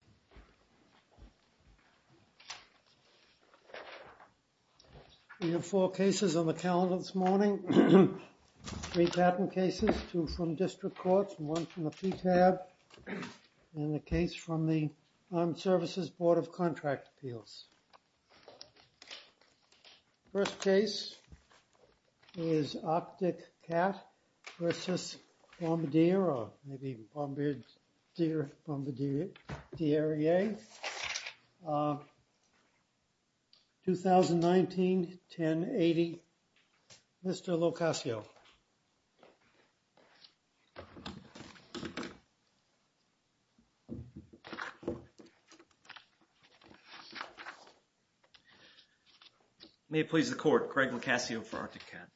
Recreational Facility. We have four cases on the calendar this morning. Three patent cases, two from district courts and one from the PTAB and a case from the Armed Services Board of Contract Appeals. First case is Arctic Cat v. Bombardier or maybe Bombardier Bombardier. 2019-10-80. Mr. LoCascio. May it please the court. Craig LoCascio for Arctic Cat.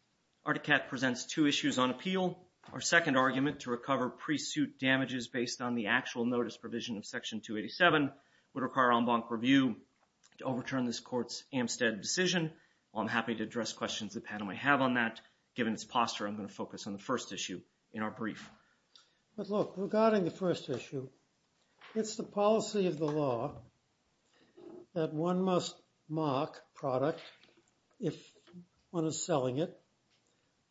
Arctic Cat presents two issues on appeal. Our second argument to recover pre-suit damages based on the actual notice provision of Section 287 would require en banc review to overturn this court's Amstead decision. While I'm happy to address questions the panel may have on that, given its posture, I'm going to focus on the first issue in our brief. But look, regarding the first issue, it's the policy of the law that one must mark product if one is selling it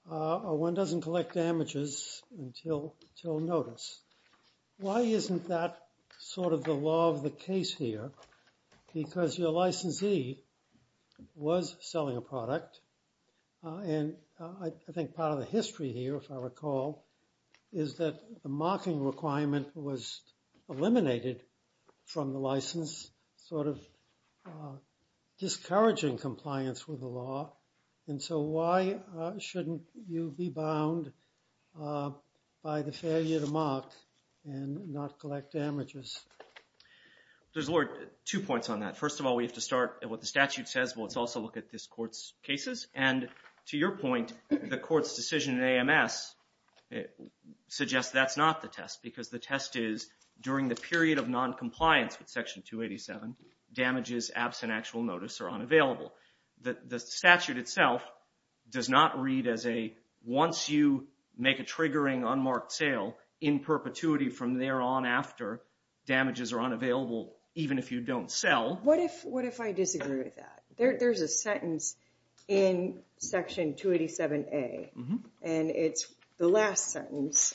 or one doesn't collect damages until notice. Why isn't that sort of the law of the case here? Because your licensee was selling a product and I think part of the history here, if I recall, is that the marking requirement was eliminated from the license, sort of discouraging compliance with the law. And so why shouldn't you be bound by the failure to mark and not collect damages? There's two points on that. First of all, we have to start at what the statute says but let's also look at this court's cases. And to your point, the court's decision in AMS suggests that's not the test because the test is during the period of noncompliance with Section 287 damages absent actual notice are unavailable. The statute itself does not read as a once you make a triggering unmarked sale in perpetuity from there on after, damages are unavailable even if you don't sell. What if I disagree with that? There's a sentence in Section 287A and it's the last sentence.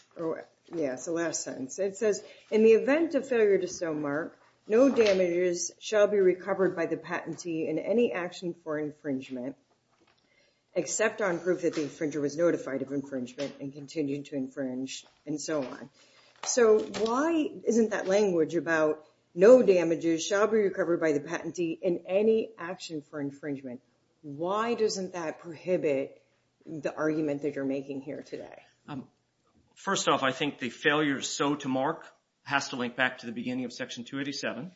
It says in the event of failure to sell mark, no damages shall be recovered by the patentee in any action for infringement except on proof that the infringer was notified of infringement and continued to infringe and so on. So why isn't that language about no damages shall be recovered by the patentee in any action for infringement? Why doesn't that prohibit the argument that you're making here today? First off, I think the failure so to mark has to link back to the beginning of Section 287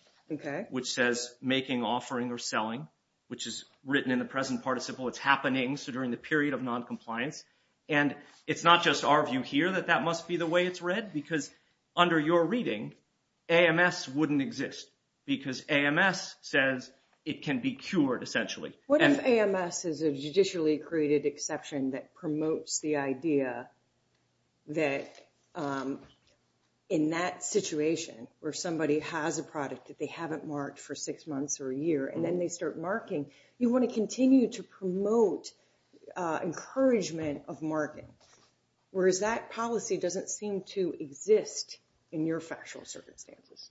which says making, offering, or selling which is written in the present participle. It's happening so during the period of noncompliance and it's not just our view here that that must be the way it's read because under your reading, AMS wouldn't exist because AMS says it can be cured essentially. What if AMS is a judicially created exception that promotes the idea that in that situation where somebody has a product that they haven't marked for six months or a year and then they start marking, you want to continue to promote encouragement of marking. Whereas that policy doesn't seem to exist in your factual circumstances.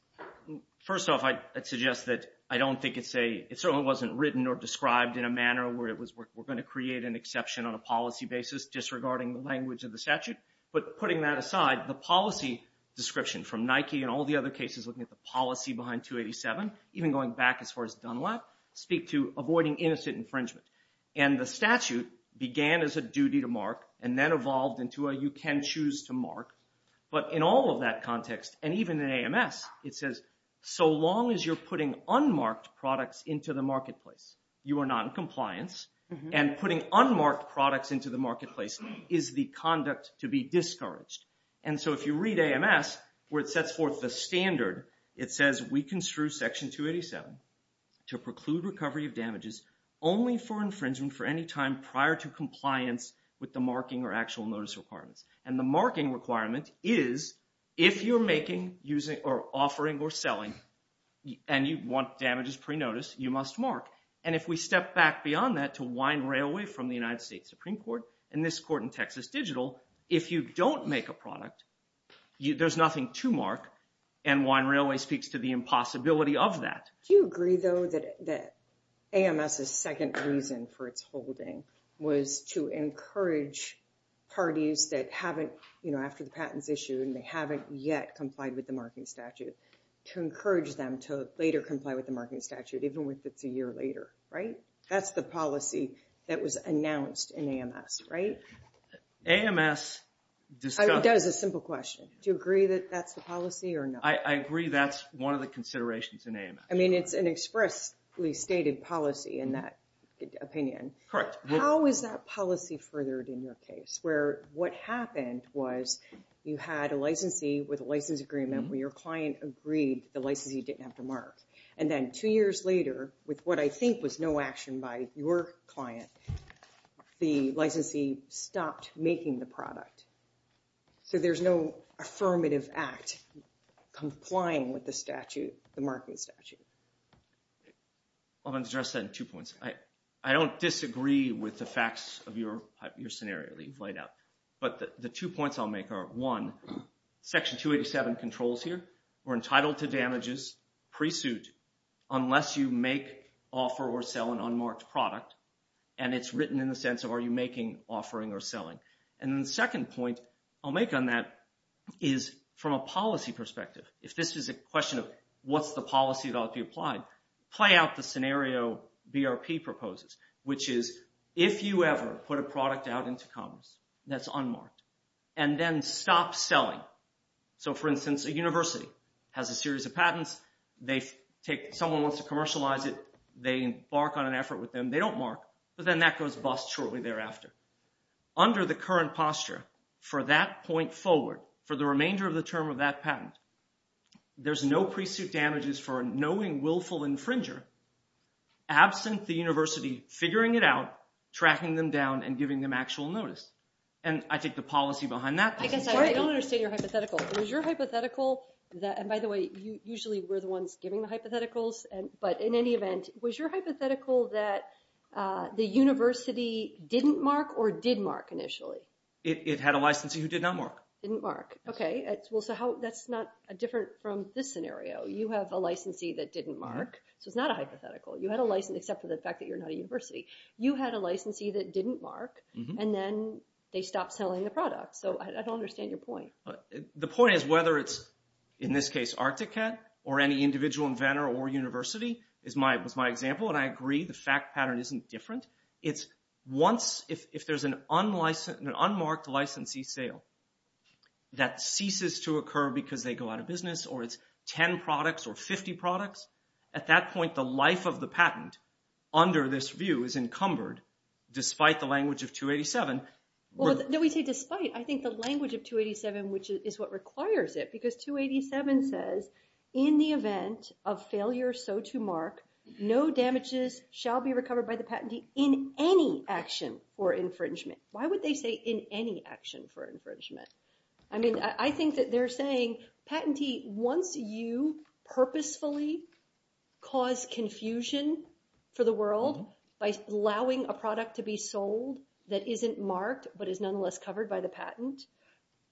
First off, I'd suggest that I don't think it's a, it certainly wasn't written or described in a manner where it was, we're going to create an exception on a policy basis disregarding the language of the statute. But putting that aside, the policy description from Nike and all the other cases looking at the policy behind 287 even going back as far as Dunlap speak to avoiding innocent infringement. And the statute began as a duty to mark and then evolved into a you can choose to mark. But in all of that context and even in AMS, it says so long as you're putting unmarked products into the marketplace, you are not in compliance and putting unmarked products into the marketplace is the conduct to be in AMS where it sets forth the standard. It says we construe Section 287 to preclude recovery of damages only for infringement for any time prior to compliance with the marking or actual notice requirements. And the marking requirement is if you're making using or offering or selling and you want damages pre-notice, you must mark. And if we step back beyond that to wind railway from the United States Supreme Court and this court in Texas Digital, if you don't make a product, there's nothing to mark and wind railway speaks to the impossibility of that. Do you agree though that AMS' second reason for its holding was to encourage parties that haven't, you know, after the patents issued and they haven't yet complied with the marking statute to encourage them to later comply with the marking statute even if it's a year later, right? That's the policy that was announced in AMS, right? AMS does a simple question. Do you agree that that's the policy or not? I agree that's one of the considerations in AMS. I mean it's an expressly stated policy in that opinion. Correct. How is that policy furthered in your case where what happened was you had a licensee with a license agreement where your client agreed the licensee didn't have to mark. And then two years later with what I think was no action by your client, the licensee stopped making the product. So there's no affirmative act complying with the statute, the marking statute. I'll address that in two points. I don't disagree with the facts of your scenario that you've laid out. But the two points I'll make are one, Section 287 controls here. We're entitled to damages pre-suit unless you make, offer, or sell an unmarked product. And it's written in the sense of are you making, offering, or selling. And the second point I'll make on that is from a policy perspective, if this is a question of what's the policy that ought to be applied, play out the scenario BRP proposes which is if you ever put a product out into commerce that's unmarked and then stop selling. So for instance a university has a series of patents. They take, someone wants to commercialize it. They embark on an effort with them. They don't mark. But then that goes bust shortly thereafter. Under the current posture for that point forward, for the remainder of the term of that patent there's no pre-suit damages for a knowing, willful infringer absent the university figuring it out, tracking them down and giving them actual notice. And I take the policy behind that. I don't understand your hypothetical. Was your hypothetical, and by the way usually we're the ones giving the hypotheticals, but in any event, was your hypothetical that the university didn't mark or did mark initially? It had a licensee who did not mark. Didn't mark. Okay. So that's not different from this scenario. You have a licensee that didn't mark. So it's not a hypothetical. You had a licensee, except for the fact that you're not a university. You had a licensee that didn't mark and then they stopped selling the product. So I don't understand your point. The point is whether it's in this case ArcticCat or any individual inventor or university was my example and I agree the fact pattern isn't different. It's once, if there's an unmarked licensee sale that ceases to occur because they go out of business or it's 10 products or 50 products, at that point the life of the patent under this view is encumbered despite the language of 287. No, we say despite. I think the language of 287 which is what requires it because 287 says in the event of failure so to mark, no damages shall be recovered by the patentee in any action for infringement. Why would they say in any action for infringement? I mean, I think that they're saying patentee, once you purposefully cause confusion for the world by allowing a product to be sold that isn't marked but is nonetheless covered by the patent,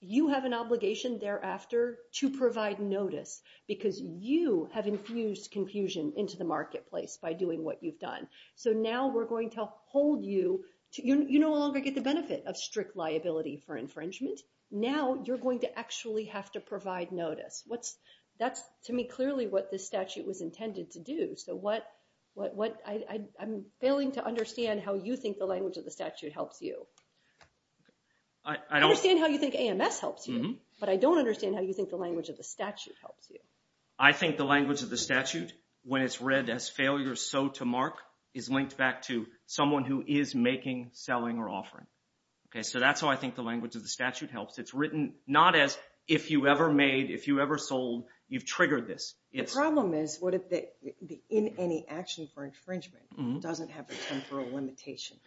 you have an obligation thereafter to provide notice because you have infused confusion into the marketplace by doing what you've done. So now we're going to hold you. You no longer get the benefit of strict liability for infringement. Now you're going to actually have to provide notice. That's to me clearly what this statute was intended to do. I'm failing to understand how you think the language of the statute helps you. I understand how you think AMS helps you but I don't understand how you think the language of the statute helps you. I think the language of the statute when it's read as failure so to mark is linked back to someone who is making, selling, or offering. So that's how I think the language of the statute helps. It's written not as if you ever made, if you ever sold, you've triggered this. The problem is what if the in any action for infringement doesn't have a temporal limitation?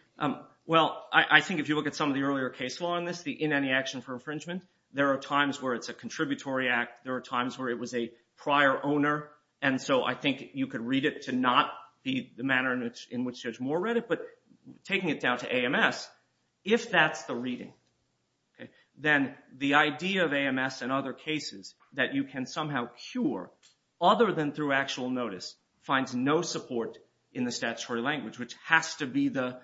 Well, I think if you look at some of the earlier case law on this, the in any action for infringement, there are times where it's a contributory act. There are times where it was a prior owner and so I think you could read it to not be the manner in which Judge Moore read it but taking it down to AMS, if that's the reading then the idea of AMS and other cases that you can somehow cure other than through actual notice finds no support in the statutory language which has to be the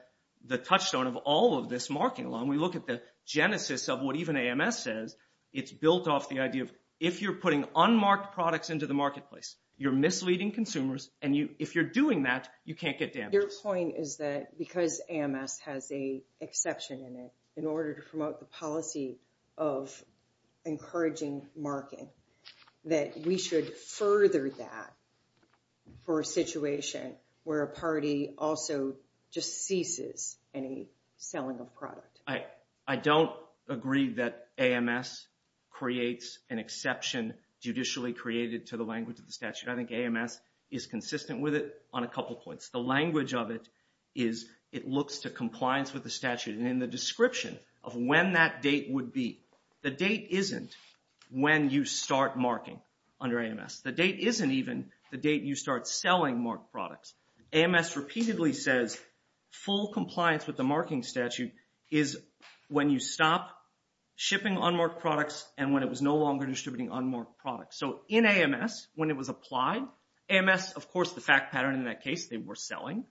touchstone of all of this marking law and we look at the genesis of what even AMS says it's built off the idea of if you're putting unmarked products into the marketplace you're misleading consumers and if you're doing that you can't get damages. Your point is that because AMS has an exception in it in order to promote the policy of encouraging marking that we should further that for a situation where a party also just ceases any selling of product. I don't agree that AMS creates an exception judicially created to the language of the statute. I think AMS is consistent with it on a couple points. The language of it is it looks to compliance with the statute and in the description of when that date would be the date isn't when you start marking under you start selling marked products. AMS repeatedly says full compliance with the marking statute is when you stop shipping unmarked products and when it was no longer distributing unmarked products. So in AMS when it was applied, AMS of course the fact pattern in that case they were selling,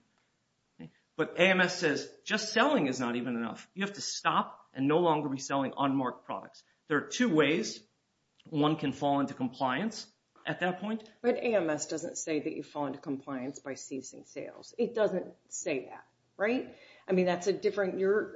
but AMS says just selling is not even enough. You have to stop and no longer be selling unmarked products. There are two ways one can fall into compliance at that point. But AMS doesn't say that you fall into compliance by ceasing sales. It doesn't say that. Right? I mean that's a different your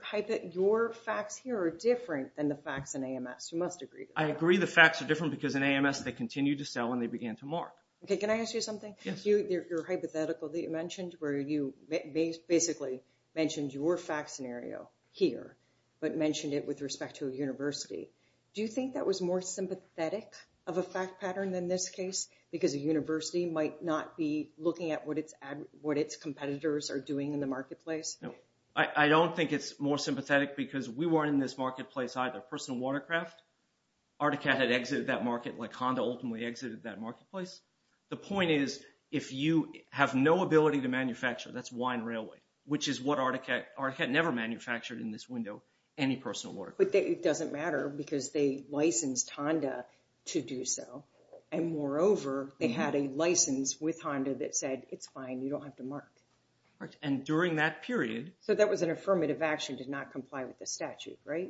facts here are different than the facts in AMS. You must agree. I agree the facts are different because in AMS they continue to sell when they begin to mark. Can I ask you something? Yes. Your hypothetical that you mentioned where you basically mentioned your fact scenario here but mentioned it with respect to a university. Do you think that was more sympathetic of a fact pattern than this case? Because a university might not be looking at what its competitors are doing in the marketplace? No. I don't think it's more sympathetic because we weren't in this marketplace either. Personal Watercraft, Articat had exited that market like Honda ultimately exited that marketplace. The point is if you have no ability to manufacture, that's Wine Railway, which is what Articat never manufactured in this window, any personal watercraft. But it doesn't matter because they licensed Honda to do so. And more over they had a license with Honda that said it's fine you don't have to mark. And during that period. So that was an affirmative action to not comply with the statute. Right?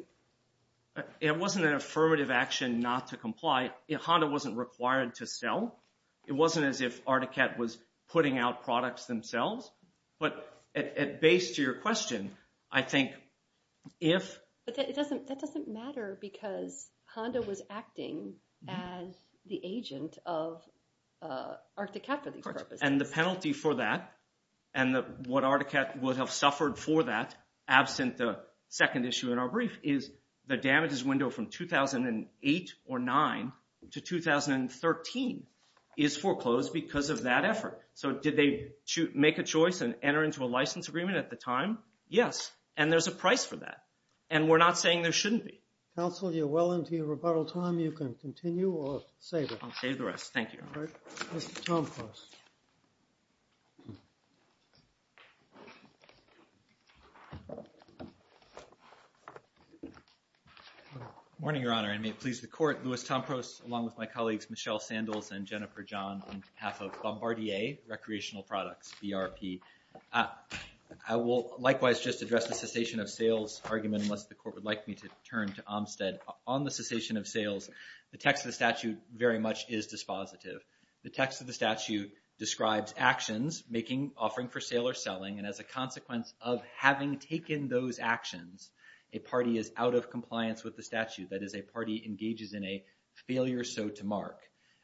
It wasn't an affirmative action not to comply. Honda wasn't required to sell. It wasn't as if Articat was putting out products themselves. But at base to your question, I think if But that doesn't matter because Honda was acting as the agent of Articat for these purposes. And the penalty for that and what Articat would have suffered for that absent the second issue in our brief is the damages window from 2008 or 9 to 2013 is foreclosed because of that effort. So did they make a choice and enter into a license agreement at the time? Yes. And there's a price for that. And we're not saying there shouldn't be. Counsel, you're well into your rebuttal time. You can continue or save it. I'll save the rest. Thank you, Your Honor. Mr. Tompros. Good morning, Your Honor. And may it please the Court, Louis Tompros along with my colleagues Michelle Sandles and Jennifer John on behalf of Bombardier Recreational Products, BRP. I will likewise just address the cessation of sales argument unless the Court would like me to turn to Olmstead. On the cessation of sales, the text of the statute very much is dispositive. The text of the statute describes actions making, offering for sale or selling. And as a consequence of having taken those actions, a party is out of compliance with the statute. That is, a party engages in a failure so to mark.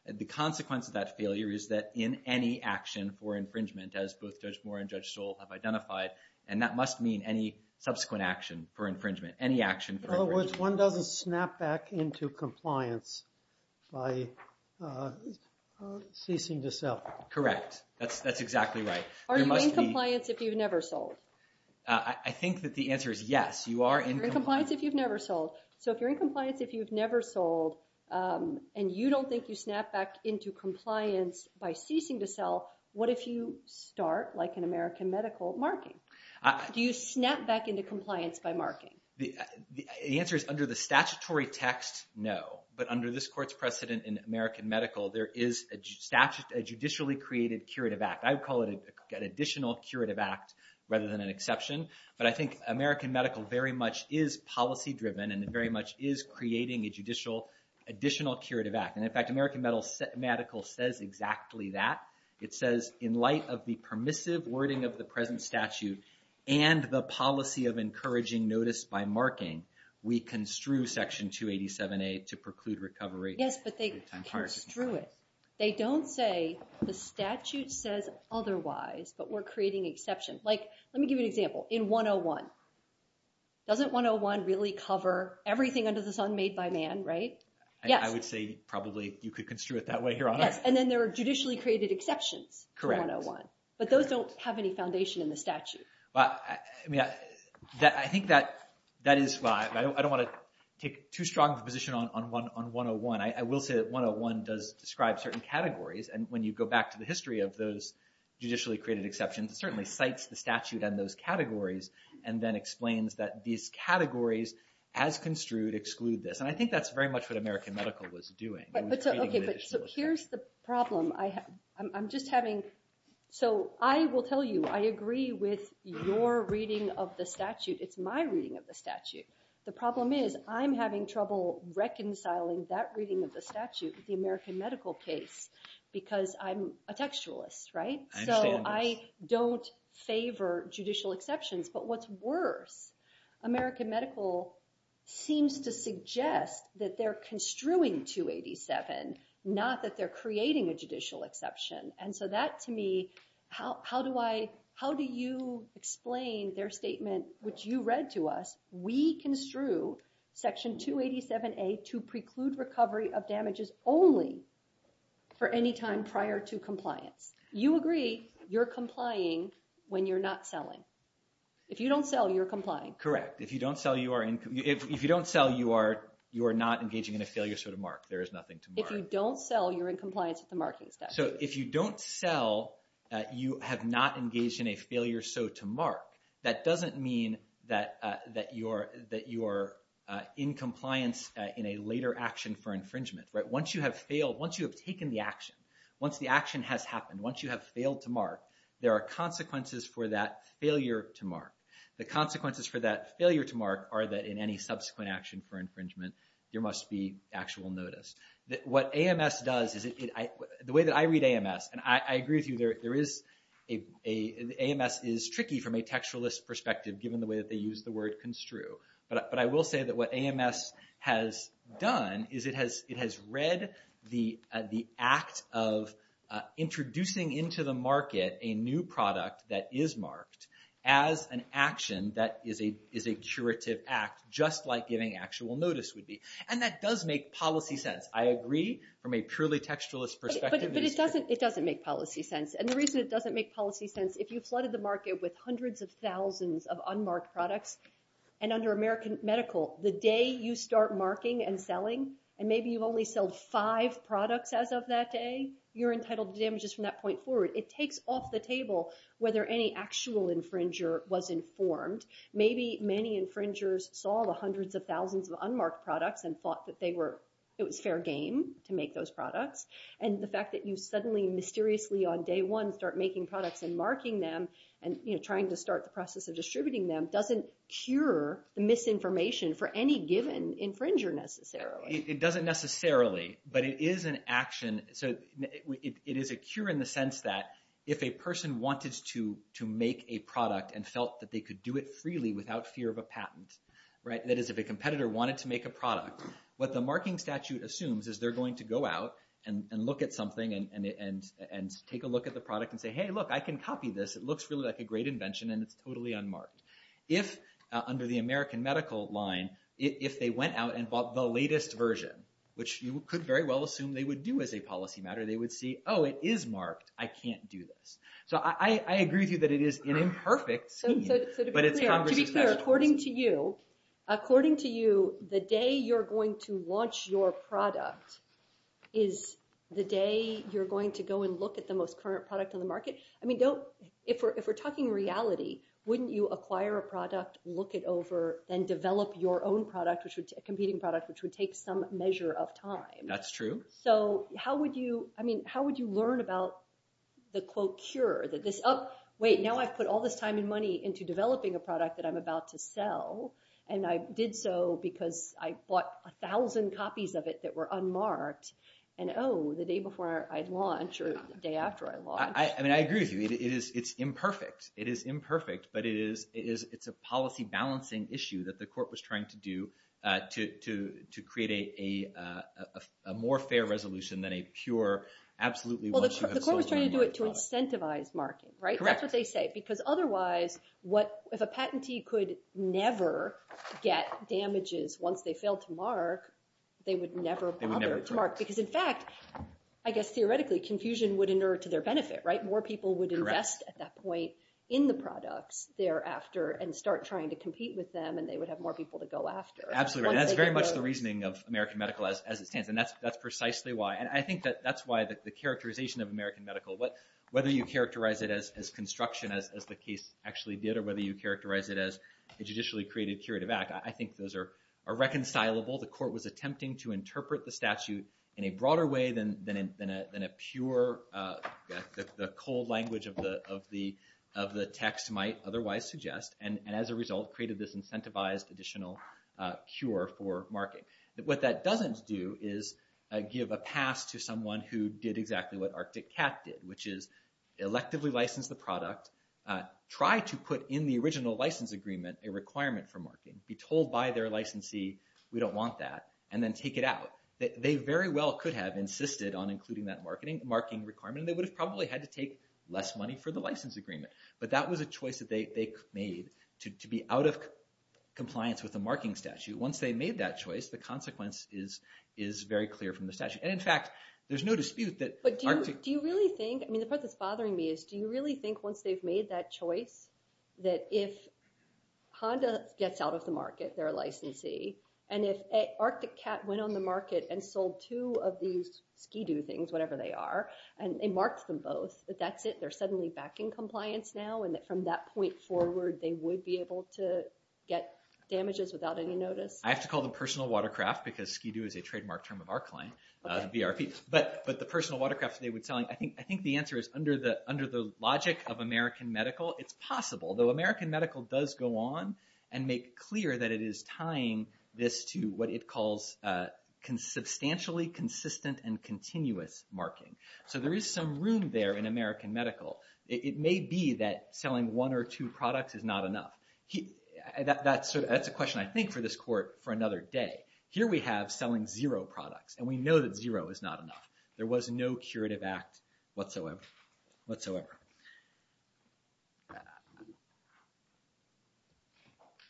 The consequence of that failure is that in any action for infringement, as both Judge Moore and Judge Stoll have identified, and that must mean any subsequent action for infringement. In other words, one doesn't snap back into compliance by ceasing to sell. Correct. That's exactly right. Are you in compliance if you've never sold? I think that the answer is yes. You are in compliance if you've never sold. So if you're in compliance if you've never sold and you don't think you are in compliance by ceasing to sell, what if you start like an American Medical marking? Do you snap back into compliance by marking? The answer is under the statutory text, no. But under this Court's precedent in American Medical, there is a judicially created curative act. I would call it an additional curative act rather than an exception. But I think American Medical very much is policy-driven and very much is creating a judicial additional curative act. And in fact, American Medical says exactly that. It says in light of the permissive wording of the present statute and the policy of encouraging notice by marking, we construe Section 287A to preclude recovery. Yes, but they construe it. They don't say the statute says otherwise but we're creating exception. Like, let me give you an example. In 101, doesn't 101 really cover everything under the sun made by man? I would say probably you could construe it that way, Your Honor. And then there are judicially created exceptions to 101. But those don't have any foundation in the statute. I don't want to take too strong of a position on 101. I will say that 101 does describe certain categories and when you go back to the history of those judicially created exceptions, it certainly cites the statute and those categories and then explains that these categories as construed exclude this. And I think that's very much what American Medical was doing. So I will tell you, I agree with your reading of the statute. It's my reading of the statute. The problem is I'm having trouble reconciling that reading of the statute with the American Medical case because I'm a textualist, right? So I don't favor judicial exceptions. But what's worse, American Medical seems to suggest that they're construing 287, not that they're creating a judicial exception. And so that to me, how do you explain their statement, which you read to us, we construe Section 287A to preclude recovery of damages only for any time prior to compliance. You agree you're complying when you're not selling. If you don't sell, you're complying. Correct. If you don't sell, you are not engaging in a failure so to mark. There is nothing to mark. If you don't sell, you're in compliance with the marking statute. So if you don't sell, you have not engaged in a failure so to mark. That doesn't mean that you are in compliance in a later action for infringement. Once you have failed, once you have taken the action, once the action has happened, once you have failed to mark, there are consequences for that failure to mark. The consequences for that failure to mark are that in any subsequent action for infringement, there must be actual notice. What AMS does is the way that I read AMS, and I agree with you, AMS is tricky from a textualist perspective given the way that they use the word construe. But I will say that what AMS has done is it has read the act of introducing into the market a new product that is marked as an action that is a curative act, just like giving actual notice would be. And that does make policy sense. I agree from a purely textualist perspective. But it doesn't make policy sense. And the reason it doesn't make policy sense, if you flooded the market with hundreds of thousands of unmarked products, and under American Medical, the day you start marking and selling, and maybe you've only sold five products as of that day, you're entitled to damages from that point forward. It takes off the table whether any actual infringer was informed. Maybe many infringers saw the hundreds of thousands of unmarked products and thought that it was fair game to make those products. And the fact that you suddenly mysteriously on day one start making products and marking them and trying to start the process of distributing them doesn't cure the misinformation for any given infringer necessarily. It doesn't necessarily, but it is an action. It is a cure in the sense that if a person wanted to make a product and felt that they could do it freely without fear of a patent, that is if a competitor wanted to make a product, what the marking statute assumes is they're going to go out and look at something and take a look at the product and say, hey, look, I can copy this. It looks really like a great invention and it's totally unmarked. If, under the American Medical line, if they went out and bought the latest version, which you could very well assume they would do as a policy matter, they would say, oh, it is marked. I can't do this. So I agree with you that it is an imperfect scheme, but it's Congress's national policy. To be fair, according to you, the day you're going to launch your product is the day you're going to go and look at the most current product on the market. I mean, if we're talking reality, wouldn't you acquire a product, look it over, then develop your own product, a competing product, which would take some measure of time? That's true. So how would you, I mean, how would you learn about the, quote, cure, that this, oh, wait, now I've put all this time and money into developing a product that I'm about to sell, and I did so because I bought a thousand copies of it that were unmarked, and oh, the day before I launch or the day after I launch. I mean, I agree with you. It's imperfect. It is imperfect, but it is a policy balancing issue that the court was trying to do to create a more fair resolution than a pure absolutely once you have sold your product. Well, the court was trying to do it to incentivize marking, right? That's what they say, because otherwise, if a patentee could never get damages once they failed to mark, they would never bother to mark, because in fact, I guess theoretically, confusion would inert to their benefit, right? More people would invest at that point in the court trying to compete with them, and they would have more people to go after. Absolutely, and that's very much the reasoning of American Medical as it stands, and that's precisely why, and I think that that's why the characterization of American Medical, whether you characterize it as construction, as the case actually did, or whether you characterize it as a judicially created curative act, I think those are reconcilable. The court was attempting to interpret the statute in a broader way than a pure the cold language of the text might otherwise suggest, and as a result, created this incentivized additional cure for marking. What that doesn't do is give a pass to someone who did exactly what Arctic Cat did, which is electively license the product, try to put in the original license agreement a requirement for marking, be told by their licensee we don't want that, and then take it out. They very well could have insisted on including that marking requirement, and they would have probably had to take less money for the license agreement, but that was a choice that they made to be out of compliance with the marking statute. Once they made that choice, the consequence is very clear from the statute, and in fact, there's no dispute that But do you really think, I mean the part that's bothering me, is do you really think once they've made that choice, that if Honda gets out of the market, their licensee, and if Arctic Cat went on the market and sold two of these Ski-Do things, whatever they are, and they marked them both, that that's it, they're suddenly back in compliance now, and from that point forward, they would be able to get damages without any notice? I have to call them personal watercraft, because Ski-Do is a trademark term of our client, but the personal watercraft they would sell, I think the answer is under the logic of American Medical, it's possible, though American Medical does go on and make clear that it is tying this to what it calls substantially consistent and continuous marking. So there is some room there in American Medical. It may be that selling one or two products is not enough. That's a question, I think, for this court for another day. Here we have selling zero products, and we know that zero is not enough. There was no curative act whatsoever.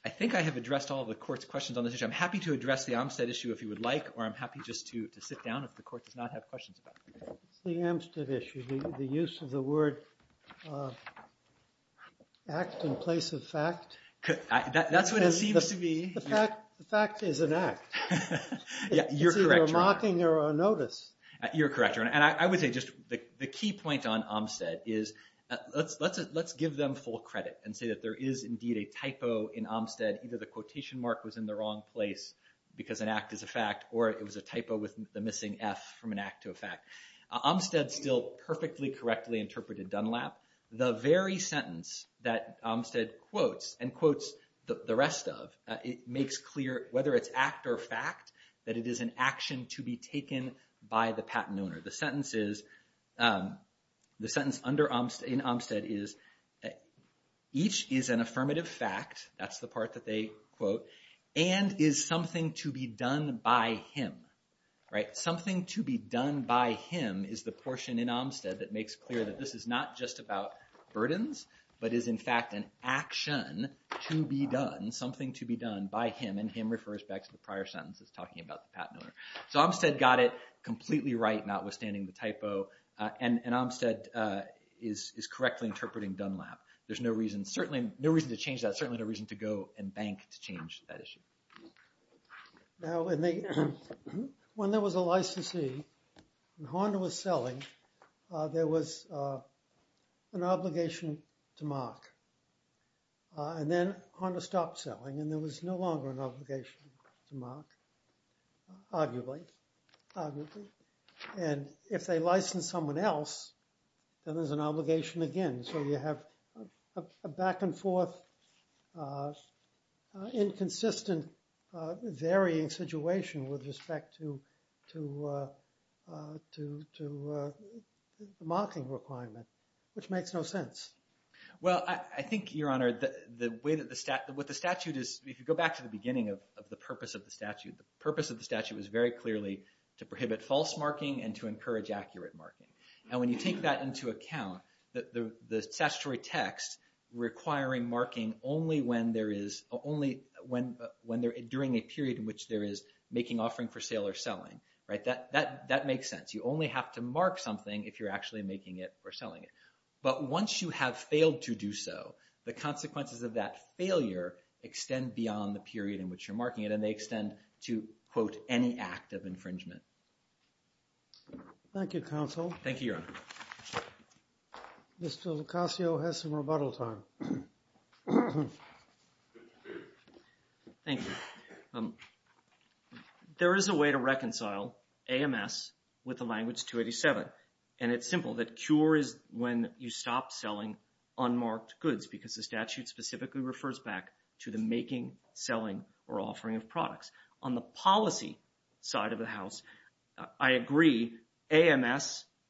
I think I have addressed all of the court's questions on this issue. I'm happy to address the Amstead issue if you would like, or I'm happy just to sit down if the court does not have questions about it. The Amstead issue, the use of the word act in place of fact. The fact is an act. It's either a marking or a notice. You're correct. I would say just the key point on Amstead is let's give them full credit and say that there is indeed a typo in Amstead, either the quotation mark was in the wrong place because an act is a fact or it was a typo with the missing F from an act to a fact. Amstead still perfectly correctly interpreted Dunlap. The very sentence that Amstead quotes and quotes the rest of makes clear, whether it's act or fact, that it is an action to be taken by the patent owner. The sentence is, the sentence in Amstead is each is an affirmative fact, that's the part that they quote, and is something to be done by him. Something to be done by him is the portion in Amstead that makes clear that this is not just about burdens, but is in fact an action to be done, something to be done by him, and him refers back to the prior sentence that's talking about the patent owner. So Amstead got it completely right, notwithstanding the typo, and Amstead is correctly interpreting Dunlap. There's no reason to change that, and there's certainly no reason to go and bank to change that issue. Now, when there was a licensee, and Honda was selling, there was an obligation to mark, and then Honda stopped selling, and there was no longer an obligation to mark, arguably. And if they license someone else, then there's an obligation again, so you have a back and forth inconsistent varying situation with respect to marking requirement, which makes no sense. Well, I think, Your Honor, what the statute is, if you go back to the beginning of the purpose of the statute, the purpose of the statute was very clearly to prohibit false marking and to encourage accurate marking. And when you take that into account, the statutory text requiring marking during a period in which there is making offering for sale or selling, that makes sense. You only have to mark something if you're actually making it or selling it. But once you have failed to do so, the consequences of that failure extend beyond the period in which you're marking it, and they extend to, quote, any act of infringement. Thank you, Counsel. Thank you, Your Honor. Mr. Lucasio has some rebuttal time. Thank you. There is a way to reconcile AMS with the language 287, and it's simple, that cure is when you stop selling unmarked goods because the statute specifically refers back to the making, selling, or offering of products. On the policy side of the House, I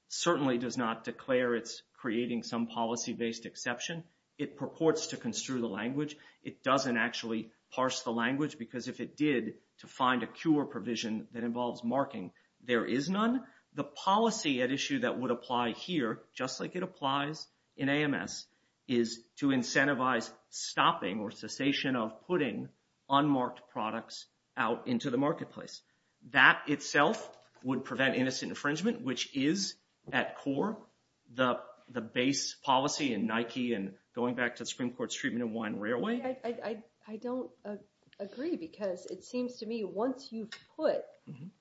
certainly does not declare it's creating some policy-based exception. It purports to construe the language. It doesn't actually parse the language because if it did, to find a cure provision that involves marking, there is none. The policy at issue that would apply here, just like it applies in AMS, is to incentivize stopping or cessation of putting unmarked products out into the marketplace. That itself would prevent innocent infringement, which is, at core, the base policy in Nike and going back to the Supreme Court's treatment of Wine Railway. I don't agree because it seems to me once you've put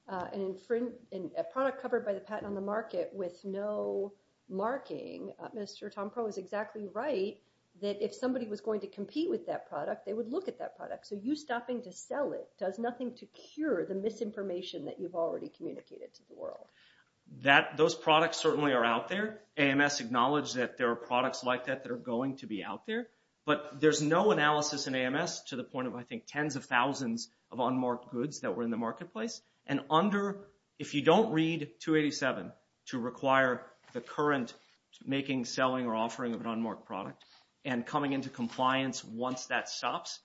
a product covered by the patent on the market with no marking, Mr. Tompereau is exactly right that if somebody was going to compete with that product, they would look at that product. So you stopping to sell it does nothing to cure the misinformation that you've already communicated to the world. Those products certainly are out there. AMS acknowledged that there are products like that that are going to be out there. But there's no analysis in AMS to the point of, I think, tens of thousands of unmarked goods that were in the marketplace. If you don't read 287 to require the current making, selling, or offering of an unmarked product and coming into compliance once that stops,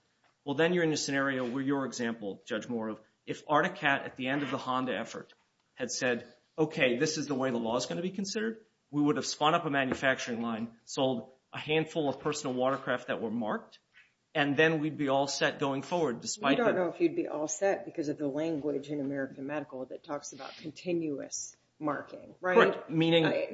well then you're in a scenario where your example, Judge Moore, if Articat, at the end of the Honda effort, had said okay, this is the way the law is going to be considered, we would have spun up a manufacturing line, sold a handful of personal watercraft that were marked, and then we'd be all set going forward. We don't know if you'd be all set because of the language in American Medical that talks about continuous marking.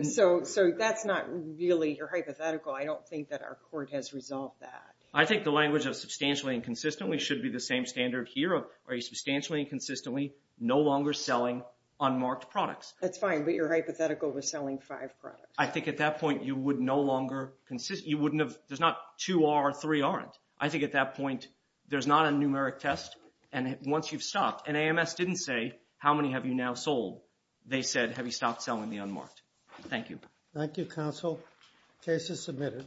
So that's not really hypothetical. I don't think that our court has resolved that. I think the language of substantially and consistently should be the same standard here of are you substantially and consistently no longer selling unmarked products. That's fine, but your hypothetical was selling five products. I think at that point you would no longer, there's not two are, three aren't. I think at that point there's not a numeric test and once you've stopped, and AMS didn't say how many have you now sold, they said have you stopped selling the unmarked. Thank you. Thank you, counsel. Case is submitted.